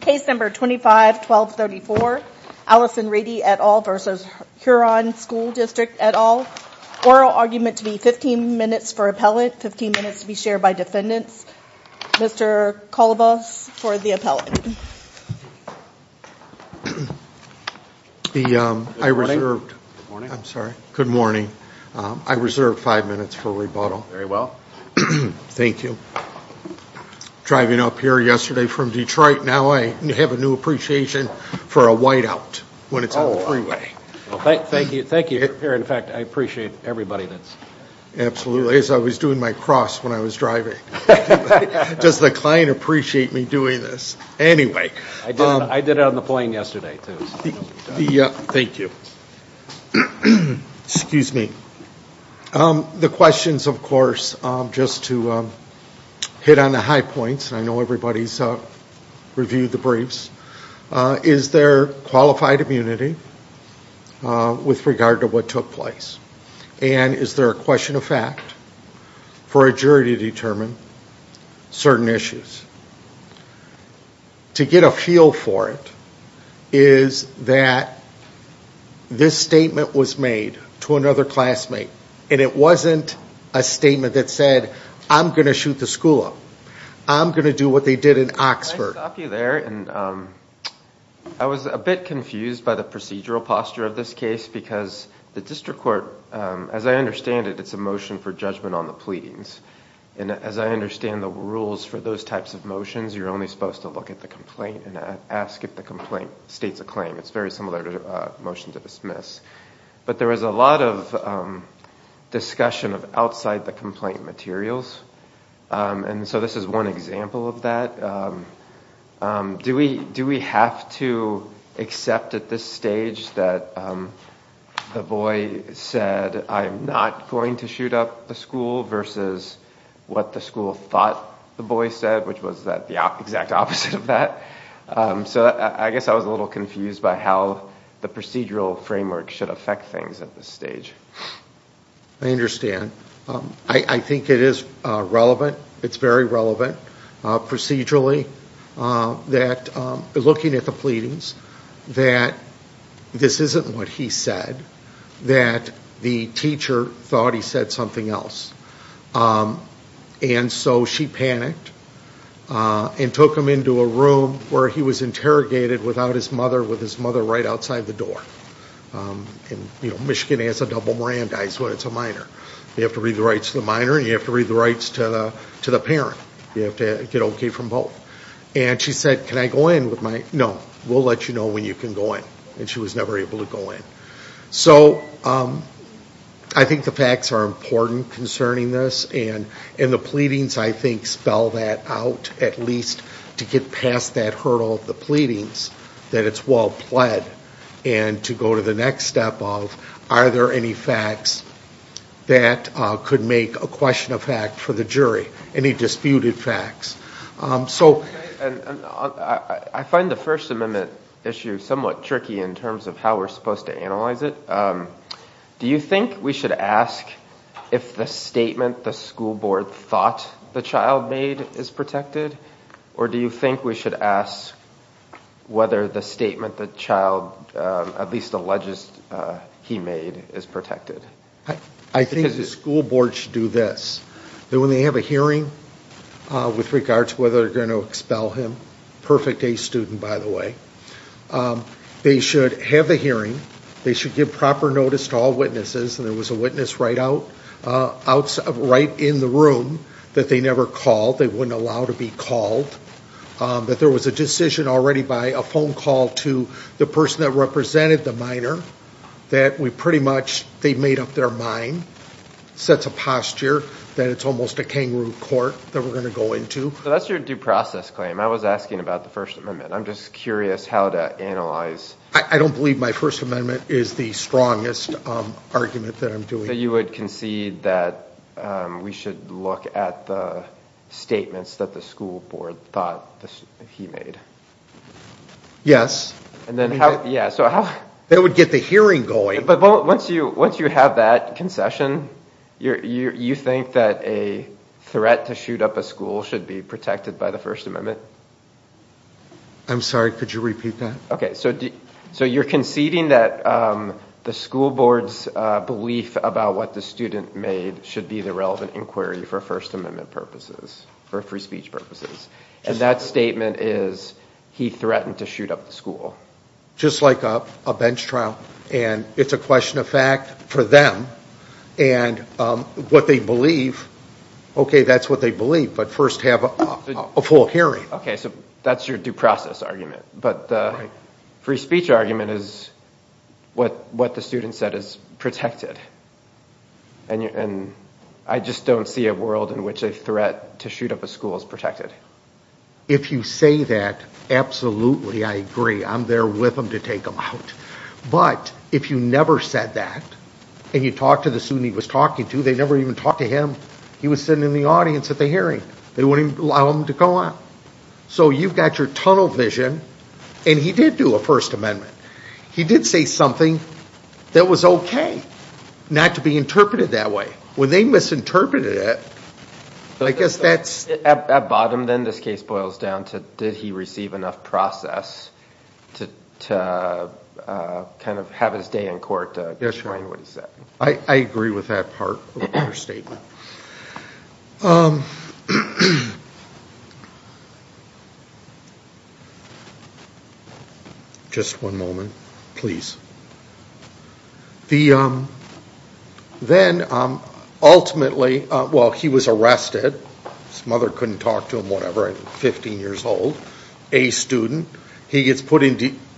Case No. 25-1234, Allison Reedy et al. v. Huron School District et al. Oral argument to be 15 minutes for appellate, 15 minutes to be shared by defendants. Mr. Kolovos for the appellate. I reserved 5 minutes for rebuttal. Very well. Thank you. Driving up here yesterday from Detroit, now I have a new appreciation for a whiteout when it's on the freeway. Thank you for being here. In fact, I appreciate everybody that's here. Absolutely, as I was doing my cross when I was driving. Does the client appreciate me doing this? Anyway. I did it on the plane yesterday, too. Thank you. Excuse me. The questions, of course, just to hit on the high points. I know everybody's reviewed the briefs. Is there qualified immunity with regard to what took place? And is there a question of fact for a jury to determine certain issues? To get a feel for it is that this statement was made to another classmate. And it wasn't a statement that said, I'm going to shoot the school up. I'm going to do what they did in Oxford. Can I stop you there? I was a bit confused by the procedural posture of this case because the district court, as I understand it, it's a motion for judgment on the pleadings. And as I understand the rules for those types of motions, you're only supposed to look at the complaint and ask if the complaint states a claim. It's very similar to a motion to dismiss. But there was a lot of discussion of outside the complaint materials. And so this is one example of that. Do we have to accept at this stage that the boy said, I'm not going to shoot up the school versus what the school thought the boy said, which was the exact opposite of that? So I guess I was a little confused by how the procedural framework should affect things at this stage. I understand. I think it is relevant. It's very relevant. Procedurally, looking at the pleadings, that this isn't what he said. That the teacher thought he said something else. And so she panicked and took him into a room where he was interrogated without his mother, with his mother right outside the door. And Michigan has a double Miranda when it's a minor. You have to read the rights to the minor and you have to read the rights to the parent. You have to get okay from both. And she said, can I go in with my, no, we'll let you know when you can go in. And she was never able to go in. So I think the facts are important concerning this. And the pleadings, I think, spell that out, at least to get past that hurdle of the pleadings, that it's well pled. And to go to the next step of, are there any facts that could make a question of fact for the jury? Any disputed facts? I find the First Amendment issue somewhat tricky in terms of how we're supposed to analyze it. Do you think we should ask if the statement the school board thought the child made is protected? Or do you think we should ask whether the statement the child, at least alleges he made, is protected? I think the school board should do this. That when they have a hearing with regards to whether they're going to expel him, perfect day student, by the way, they should have the hearing. They should give proper notice to all witnesses. And there was a witness right in the room that they never called. They wouldn't allow to be called. But there was a decision already by a phone call to the person that represented the minor that we pretty much, they made up their mind, sets a posture that it's almost a kangaroo court that we're going to go into. So that's your due process claim. I was asking about the First Amendment. I'm just curious how to analyze. I don't believe my First Amendment is the strongest argument that I'm doing. So you would concede that we should look at the statements that the school board thought he made? Yes. And then how, yeah, so how. That would get the hearing going. But once you have that concession, you think that a threat to shoot up a school should be protected by the First Amendment? I'm sorry, could you repeat that? Okay, so you're conceding that the school board's belief about what the student made should be the relevant inquiry for First Amendment purposes, for free speech purposes. And that statement is he threatened to shoot up the school. Just like a bench trial. And it's a question of fact for them. And what they believe, okay, that's what they believe. But first have a full hearing. Okay, so that's your due process argument. But the free speech argument is what the student said is protected. And I just don't see a world in which a threat to shoot up a school is protected. If you say that, absolutely, I agree. I'm there with them to take them out. But if you never said that, and you talked to the student he was talking to, they never even talked to him. He was sitting in the audience at the hearing. They wouldn't even allow him to come up. So you've got your tunnel vision. And he did do a First Amendment. He did say something that was okay not to be interpreted that way. When they misinterpreted it, I guess that's... At bottom then this case boils down to did he receive enough process to kind of have his day in court to explain what he said. I agree with that part of your statement. Just one moment, please. Then ultimately, well, he was arrested. His mother couldn't talk to him, whatever, at 15 years old. A student. He gets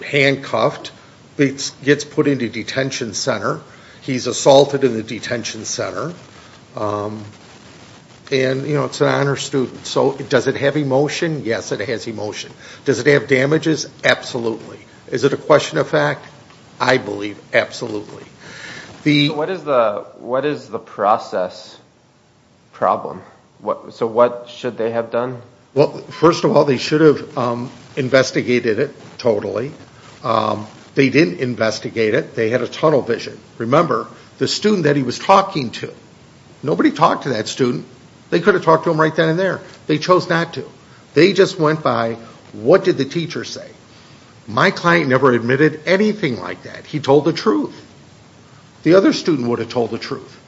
handcuffed. Gets put into detention center. He's assaulted in the detention center. And, you know, it's an honor student. So does it have emotion? Yes, it has emotion. Does it have damages? Absolutely. Is it a question of fact? I believe absolutely. What is the process problem? So what should they have done? Well, first of all, they should have investigated it totally. They didn't investigate it. They had a tunnel vision. Remember, the student that he was talking to. Nobody talked to that student. They could have talked to him right then and there. They chose not to. They just went by what did the teacher say. My client never admitted anything like that. He told the truth. The other student would have told the truth.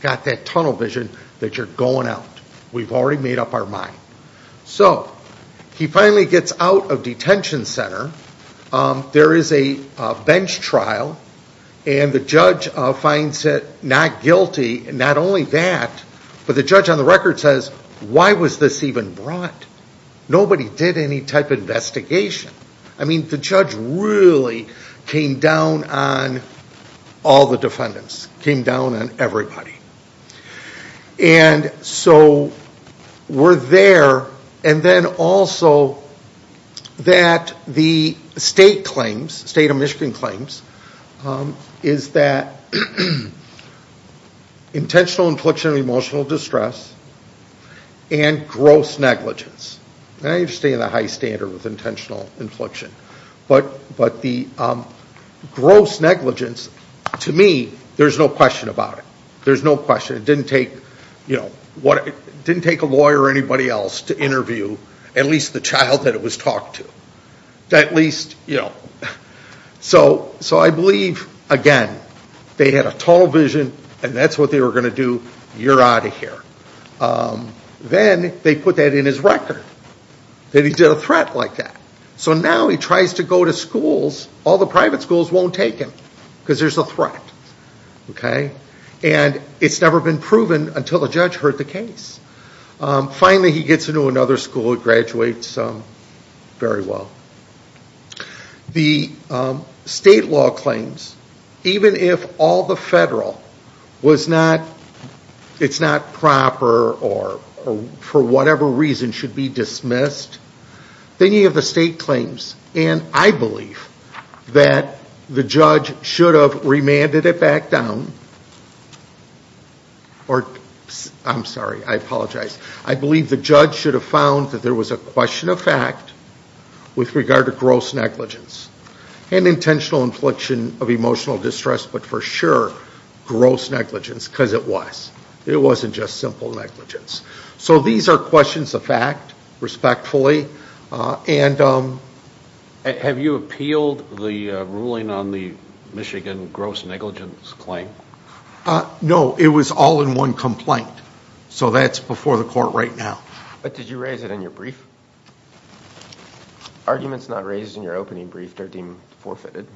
Got that tunnel vision that you're going out. We've already made up our mind. So he finally gets out of detention center. There is a bench trial. And the judge finds it not guilty. Not only that, but the judge on the record says, Why was this even brought? Nobody did any type of investigation. I mean, the judge really came down on all the defendants. Came down on everybody. And so we're there. And then also that the state claims, state of Michigan claims, is that intentional infliction of emotional distress and gross negligence. I understand the high standard with intentional infliction. But the gross negligence, to me, there's no question about it. There's no question. It didn't take a lawyer or anybody else to interview at least the child that it was talked to. At least, you know. So I believe, again, they had a tunnel vision. And that's what they were going to do. You're out of here. Then they put that in his record. That he did a threat like that. So now he tries to go to schools. All the private schools won't take him because there's a threat. And it's never been proven until a judge heard the case. Finally, he gets into another school and graduates very well. The state law claims, even if all the federal was not proper or for whatever reason should be dismissed, any of the state claims, and I believe that the judge should have remanded it back down. I'm sorry. I apologize. I believe the judge should have found that there was a question of fact with regard to gross negligence and intentional infliction of emotional distress, but for sure gross negligence because it was. It wasn't just simple negligence. So these are questions of fact, respectfully. Have you appealed the ruling on the Michigan gross negligence claim? No. It was all in one complaint. So that's before the court right now. But did you raise it in your brief? Arguments not raised in your opening brief are deemed forfeited.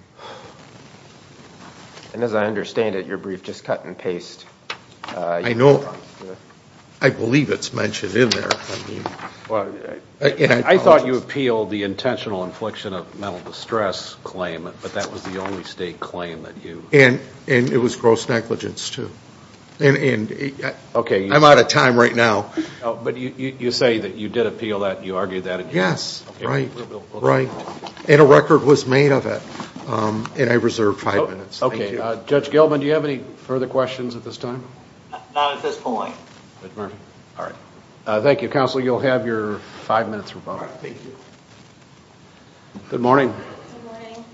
And as I understand it, your brief just cut and paste. I know. I believe it's mentioned in there. I thought you appealed the intentional infliction of mental distress claim, but that was the only state claim that you. And it was gross negligence, too. I'm out of time right now. But you say that you did appeal that and you argued that. Yes. Right. And a record was made of it, and I reserve five minutes. Okay. Judge Gilman, do you have any further questions at this time? Not at this point. All right. Thank you, counsel. You'll have your five minutes rebuttal. Thank you. Good morning. Good morning.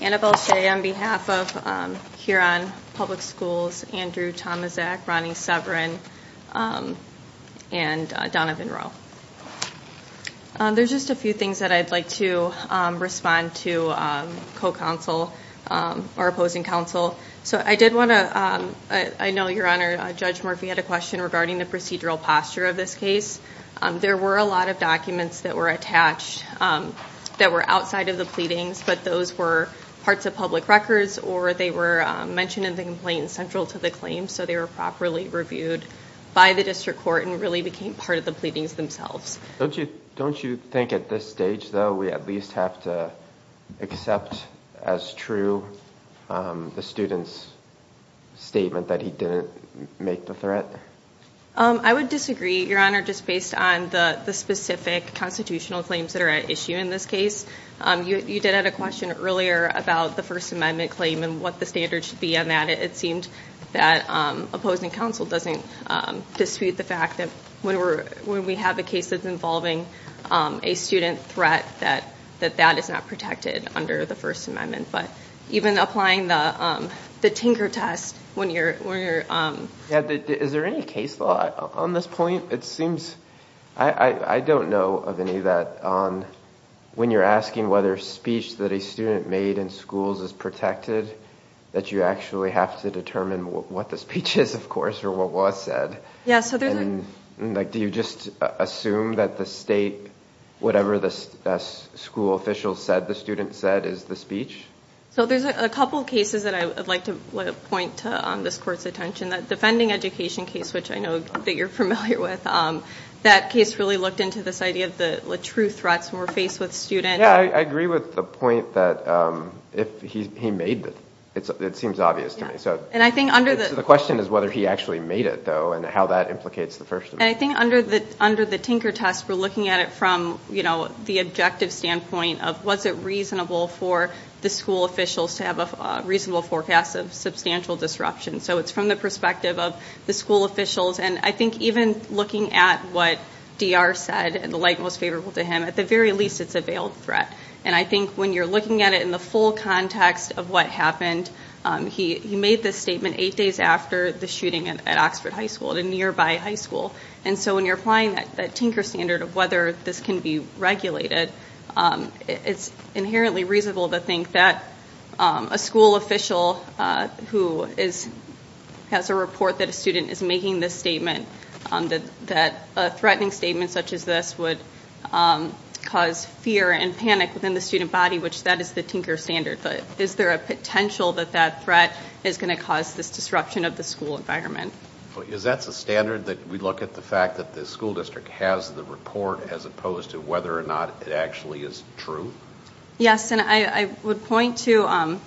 Annabelle Shea on behalf of Huron Public Schools, Andrew Tomaszak, Ronnie Severin, and Donovan Rowe. There's just a few things that I'd like to respond to co-counsel or opposing counsel. So I did want to – I know, Your Honor, Judge Murphy had a question regarding the procedural posture of this case. There were a lot of documents that were attached that were outside of the pleadings, but those were parts of public records or they were mentioned in the complaint central to the claim, so they were properly reviewed by the district court and really became part of the pleadings themselves. Don't you think at this stage, though, we at least have to accept as true the student's statement that he didn't make the threat? I would disagree, Your Honor, just based on the specific constitutional claims that are at issue in this case. You did have a question earlier about the First Amendment claim and what the standards should be on that. It seemed that opposing counsel doesn't dispute the fact that when we have a case that's involving a student threat, that that is not protected under the First Amendment. But even applying the tinker test when you're – Is there any case law on this point? It seems – I don't know of any of that. When you're asking whether speech that a student made in schools is protected, that you actually have to determine what the speech is, of course, or what was said. Do you just assume that the state, whatever the school official said the student said is the speech? There's a couple of cases that I would like to point to on this court's attention. The fending education case, which I know that you're familiar with, that case really looked into this idea of the true threats when we're faced with students. I agree with the point that if he made it, it seems obvious to me. The question is whether he actually made it, though, and how that implicates the First Amendment. I think under the tinker test, we're looking at it from the objective standpoint of was it reasonable for the school officials to have a reasonable forecast of substantial disruption. So it's from the perspective of the school officials. I think even looking at what D.R. said, the light most favorable to him, at the very least, it's a veiled threat. I think when you're looking at it in the full context of what happened, he made this statement eight days after the shooting at Oxford High School, a nearby high school. So when you're applying that tinker standard of whether this can be regulated, it's inherently reasonable to think that a school official who has a report that a student is making this statement, that a threatening statement such as this would cause fear and panic within the student body, which that is the tinker standard. But is there a potential that that threat is going to cause this disruption of the school environment? Is that the standard that we look at, the fact that the school district has the report as opposed to whether or not it actually is true? Yes, and I would point to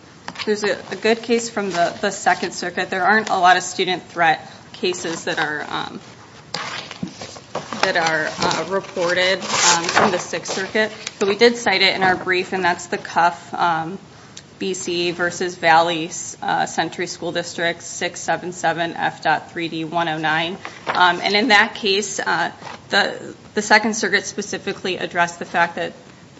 there's a good case from the Second Circuit. There aren't a lot of student threat cases that are reported from the Sixth Circuit. But we did cite it in our brief, and that's the Cuff, B.C., versus Valley Century School District 677F.3D109. And in that case, the Second Circuit specifically addressed the fact that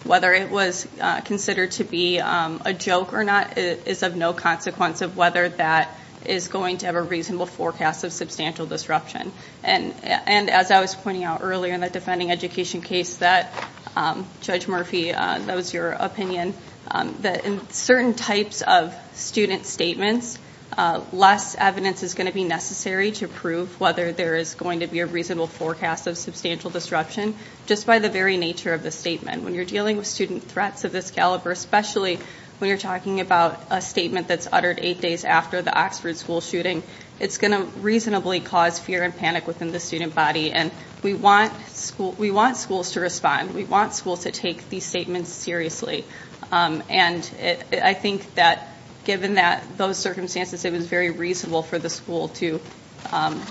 whether it was considered to be a joke or not is of no consequence of whether that is going to have a reasonable forecast of substantial disruption. And as I was pointing out earlier in the defending education case that Judge Murphy, that was your opinion, that in certain types of student statements, less evidence is going to be necessary to prove whether there is going to be a reasonable forecast of substantial disruption just by the very nature of the statement. When you're dealing with student threats of this caliber, especially when you're talking about a statement that's uttered eight days after the Oxford school shooting, it's going to reasonably cause fear and panic within the student body. And we want schools to respond. We want schools to take these statements seriously. And I think that given those circumstances, it was very reasonable for the school to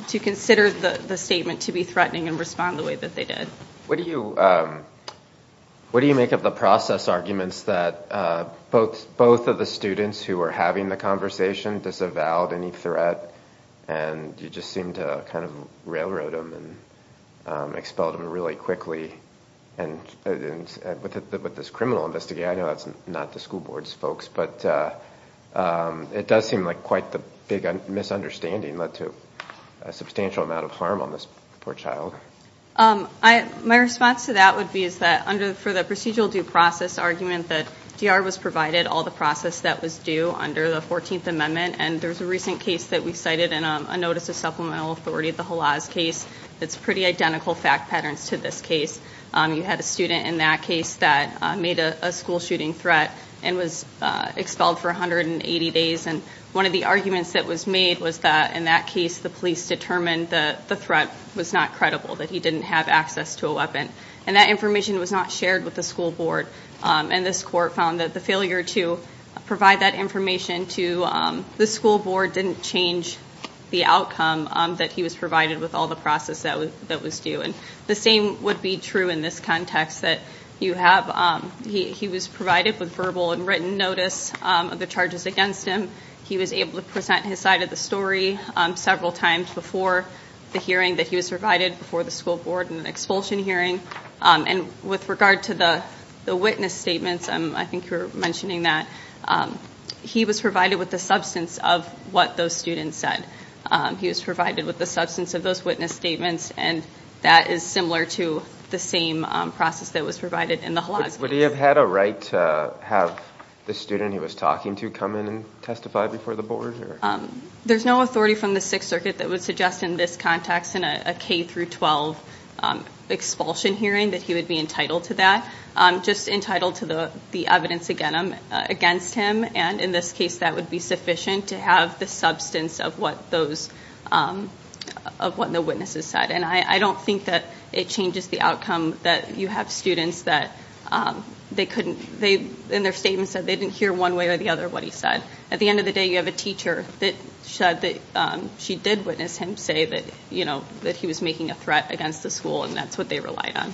consider the statement to be threatening and respond the way that they did. What do you make of the process arguments that both of the students who were having the conversation disavowed any threat and you just seemed to kind of railroad them and expelled them really quickly? And with this criminal investigator, I know that's not the school board's folks, but it does seem like quite the big misunderstanding led to a substantial amount of harm on this poor child. My response to that would be that for the procedural due process argument, that DR was provided all the process that was due under the 14th Amendment. And there's a recent case that we cited in a notice of supplemental authority, the Halas case. It's pretty identical fact patterns to this case. You had a student in that case that made a school shooting threat and was expelled for 180 days. And one of the arguments that was made was that in that case, the police determined that the threat was not credible, that he didn't have access to a weapon. And that information was not shared with the school board. And this court found that the failure to provide that information to the school board didn't change the outcome that he was provided with all the process that was due. And the same would be true in this context. He was provided with verbal and written notice of the charges against him. He was able to present his side of the story several times before the hearing that he was provided, before the school board and the expulsion hearing. And with regard to the witness statements, I think you were mentioning that, he was provided with the substance of what those students said. He was provided with the substance of those witness statements, and that is similar to the same process that was provided in the Halas case. Would he have had a right to have the student he was talking to come in and testify before the board? There's no authority from the Sixth Circuit that would suggest in this context, in a K through 12 expulsion hearing, that he would be entitled to that. Just entitled to the evidence against him. And in this case, that would be sufficient to have the substance of what those, of what the witnesses said. And I don't think that it changes the outcome that you have students that they couldn't, in their statements that they didn't hear one way or the other what he said. At the end of the day, you have a teacher that said that she did witness him say that, you know, that he was making a threat against the school, and that's what they relied on.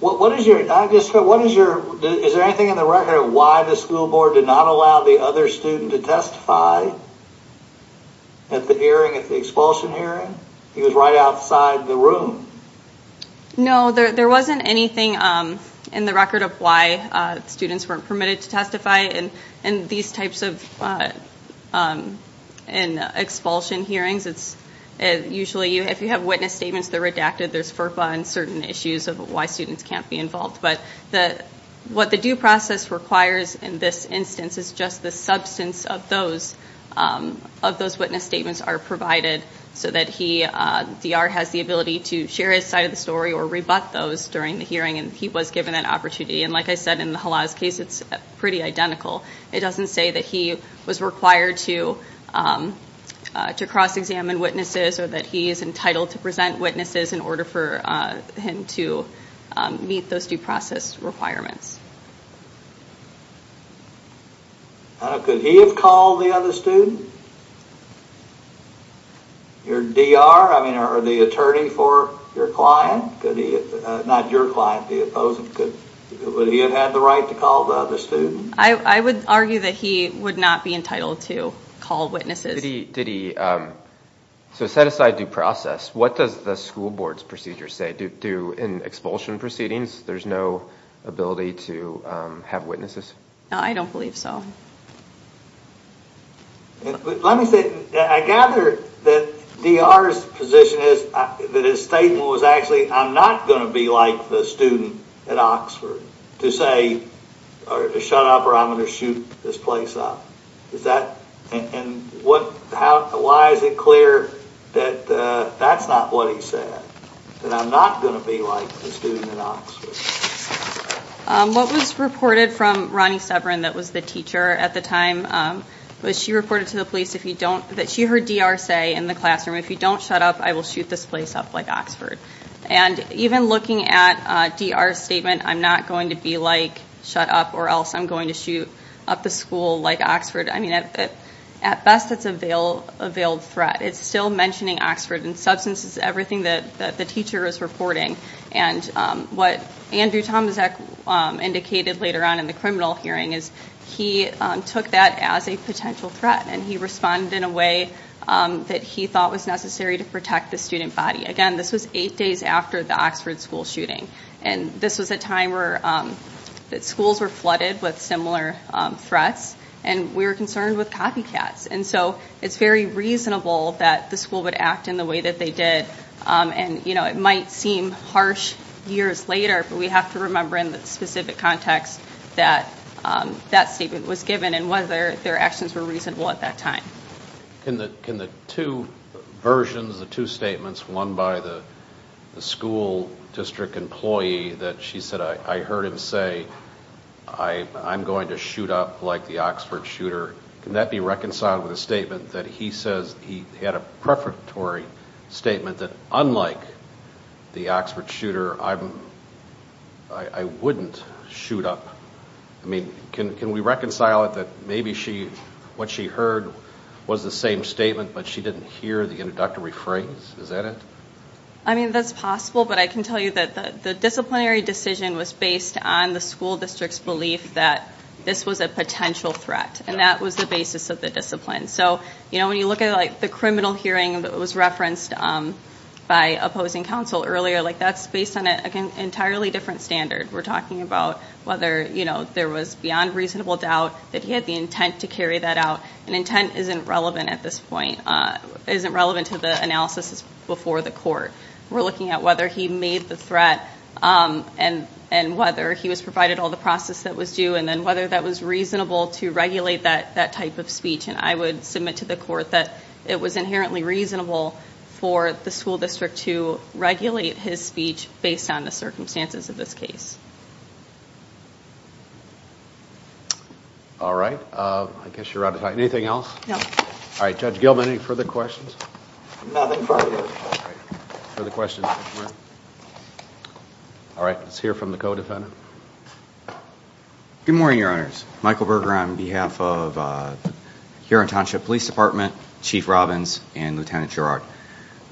What is your, is there anything in the record of why the school board did not allow the other student to testify? At the hearing, at the expulsion hearing? He was right outside the room. No, there wasn't anything in the record of why students weren't permitted to testify. In these types of expulsion hearings, it's usually if you have witness statements that are redacted, there's FERPA and certain issues of why students can't be involved. But what the due process requires in this instance is just the substance of those witness statements are provided, so that he, DR, has the ability to share his side of the story or rebut those during the hearing, and he was given that opportunity. And like I said, in the Halas case, it's pretty identical. It doesn't say that he was required to cross-examine witnesses, or that he is entitled to present witnesses in order for him to meet those due process requirements. Could he have called the other student? Your DR, I mean, or the attorney for your client, not your client, the opposing, would he have had the right to call the other student? I would argue that he would not be entitled to call witnesses. So set aside due process, what does the school board's procedure say? Do in expulsion proceedings, there's no ability to have witnesses? I don't believe so. Let me say, I gather that DR's position is that his statement was actually, I'm not going to be like the student at Oxford to say, shut up or I'm going to shoot this place up. And why is it clear that that's not what he said? That I'm not going to be like the student at Oxford? What was reported from Ronnie Severin, that was the teacher at the time, was she reported to the police that she heard DR say in the classroom, if you don't shut up, I will shoot this place up like Oxford. And even looking at DR's statement, I'm not going to be like, shut up, or else I'm going to shoot up the school like Oxford. I mean, at best it's a veiled threat. It's still mentioning Oxford and substances, everything that the teacher is reporting. And what Andrew Tomasek indicated later on in the criminal hearing is, he took that as a potential threat and he responded in a way that he thought was necessary to protect the student body. Again, this was eight days after the Oxford school shooting. And this was a time where schools were flooded with similar threats and we were concerned with copycats. And so it's very reasonable that the school would act in the way that they did. And it might seem harsh years later, but we have to remember in the specific context that that statement was given and whether their actions were reasonable at that time. Can the two versions, the two statements, one by the school district employee, that she said, I heard him say, I'm going to shoot up like the Oxford shooter, can that be reconciled with a statement that he says he had a prefatory statement that unlike the Oxford shooter, I wouldn't shoot up? Can we reconcile it that maybe what she heard was the same statement, but she didn't hear the introductory phrase? Is that it? I mean, that's possible, but I can tell you that the disciplinary decision was based on the school district's belief that this was a potential threat. And that was the basis of the discipline. So when you look at the criminal hearing that was referenced by opposing counsel earlier, that's based on an entirely different standard. We're talking about whether there was beyond reasonable doubt that he had the intent to carry that out. And intent isn't relevant at this point, isn't relevant to the analysis before the court. We're looking at whether he made the threat and whether he was provided all the process that was due and then whether that was reasonable to regulate that type of speech. And I would submit to the court that it was inherently reasonable for the school district to regulate his speech based on the circumstances of this case. All right. I guess you're out of time. Anything else? No. All right. Judge Gilman, any further questions? Nothing further. All right. Further questions? All right. Let's hear from the co-defendant. Good morning, Your Honors. Michael Berger on behalf of Huron Township Police Department, Chief Robbins, and Lieutenant Gerard.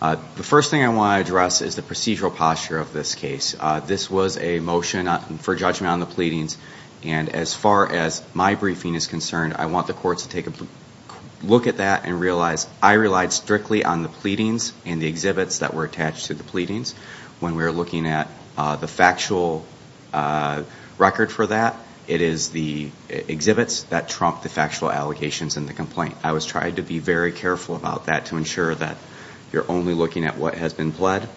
The first thing I want to address is the procedural posture of this case. This was a motion for judgment on the pleadings, and as far as my briefing is concerned, I want the courts to take a look at that and realize I relied strictly on the pleadings and the exhibits that were attached to the pleadings. When we were looking at the factual record for that, it is the exhibits that trump the factual allegations in the complaint. I was trying to be very careful about that to ensure that you're only looking at what has been pled.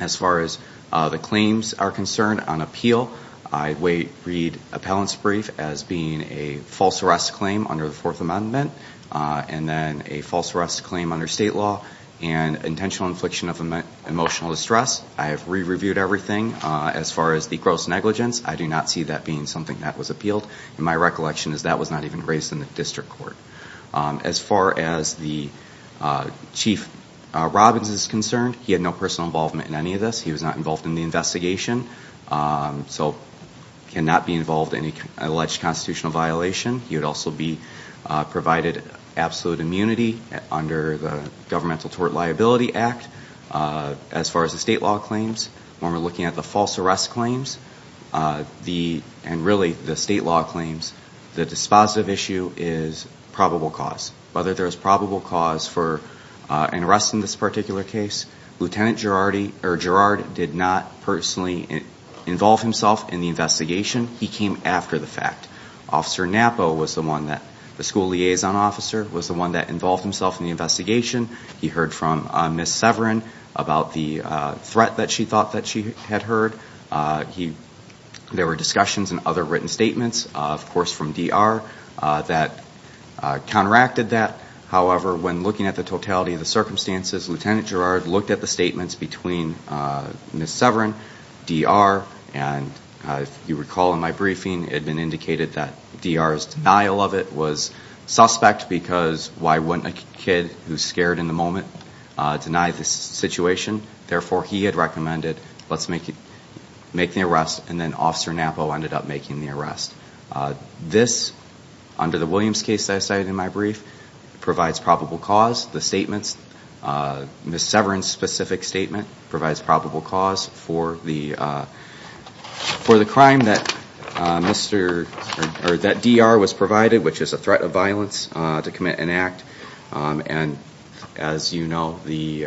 As far as the claims are concerned on appeal, I read appellant's brief as being a false arrest claim under the Fourth Amendment and then a false arrest claim under state law and intentional infliction of emotional distress. I have re-reviewed everything. As far as the gross negligence, I do not see that being something that was appealed. My recollection is that was not even raised in the district court. As far as the Chief Robbins is concerned, he had no personal involvement in any of this. He was not involved in the investigation, so cannot be involved in any alleged constitutional violation. He would also be provided absolute immunity under the Governmental Tort Liability Act. As far as the state law claims, when we're looking at the false arrest claims, and really the state law claims, the dispositive issue is probable cause. Whether there's probable cause for an arrest in this particular case, Lieutenant Gerard did not personally involve himself in the investigation. He came after the fact. Officer Napo was the one that, the school liaison officer, was the one that involved himself in the investigation. He heard from Ms. Severin about the threat that she thought that she had heard. There were discussions and other written statements, of course, from D.R. that counteracted that. However, when looking at the totality of the circumstances, Lieutenant Gerard looked at the statements between Ms. Severin, D.R., and if you recall in my briefing, it had been indicated that D.R.'s denial of it was suspect because why wouldn't a kid who's scared in the moment deny the situation? Therefore, he had recommended, let's make the arrest, and then Officer Napo ended up making the arrest. This, under the Williams case that I cited in my brief, provides probable cause. The statements, Ms. Severin's specific statement, provides probable cause for the crime that D.R. was provided, which is a threat of violence to commit an act. As you know, the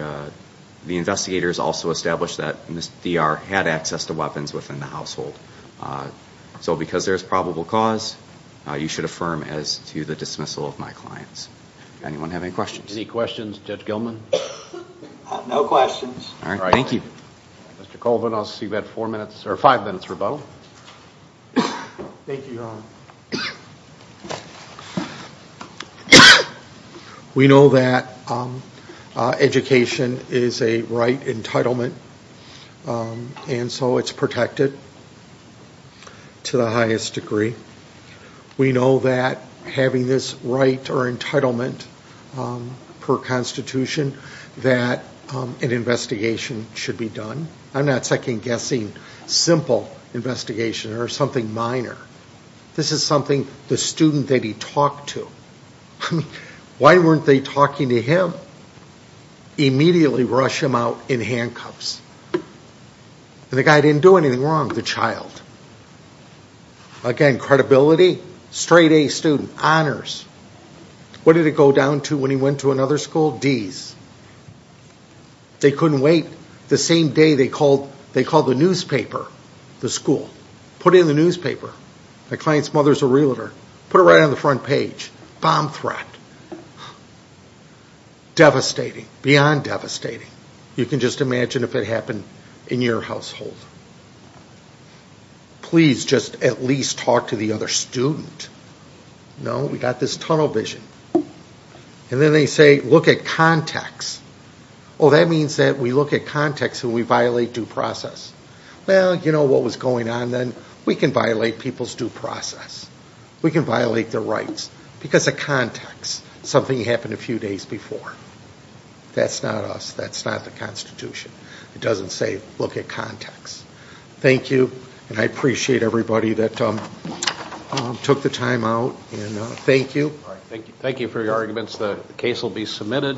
investigators also established that Ms. D.R. had access to weapons within the household. So because there's probable cause, you should affirm as to the dismissal of my clients. Anyone have any questions? Any questions of Judge Gilman? No questions. All right, thank you. Mr. Colvin, I'll see you at five minutes rebuttal. Thank you, Your Honor. We know that education is a right entitlement, and so it's protected to the highest degree. We know that having this right or entitlement per Constitution that an investigation should be done. I'm not second-guessing simple investigation or something minor. This is something the student that he talked to, why weren't they talking to him? Immediately rush him out in handcuffs. The guy didn't do anything wrong, the child. Again, credibility, straight-A student, honors. What did it go down to when he went to another school? D's. They couldn't wait. The same day they called the newspaper, the school. Put it in the newspaper. The client's mother's a realtor. Put it right on the front page. Bomb threat. Devastating, beyond devastating. You can just imagine if it happened in your household. Please just at least talk to the other student. No, we got this tunnel vision. And then they say, look at context. Well, that means that we look at context and we violate due process. Well, you know what was going on then? We can violate people's due process. We can violate their rights because of context. Something happened a few days before. That's not us. That's not the Constitution. It doesn't say look at context. Thank you. And I appreciate everybody that took the time out. And thank you. Thank you for your arguments. The case will be submitted.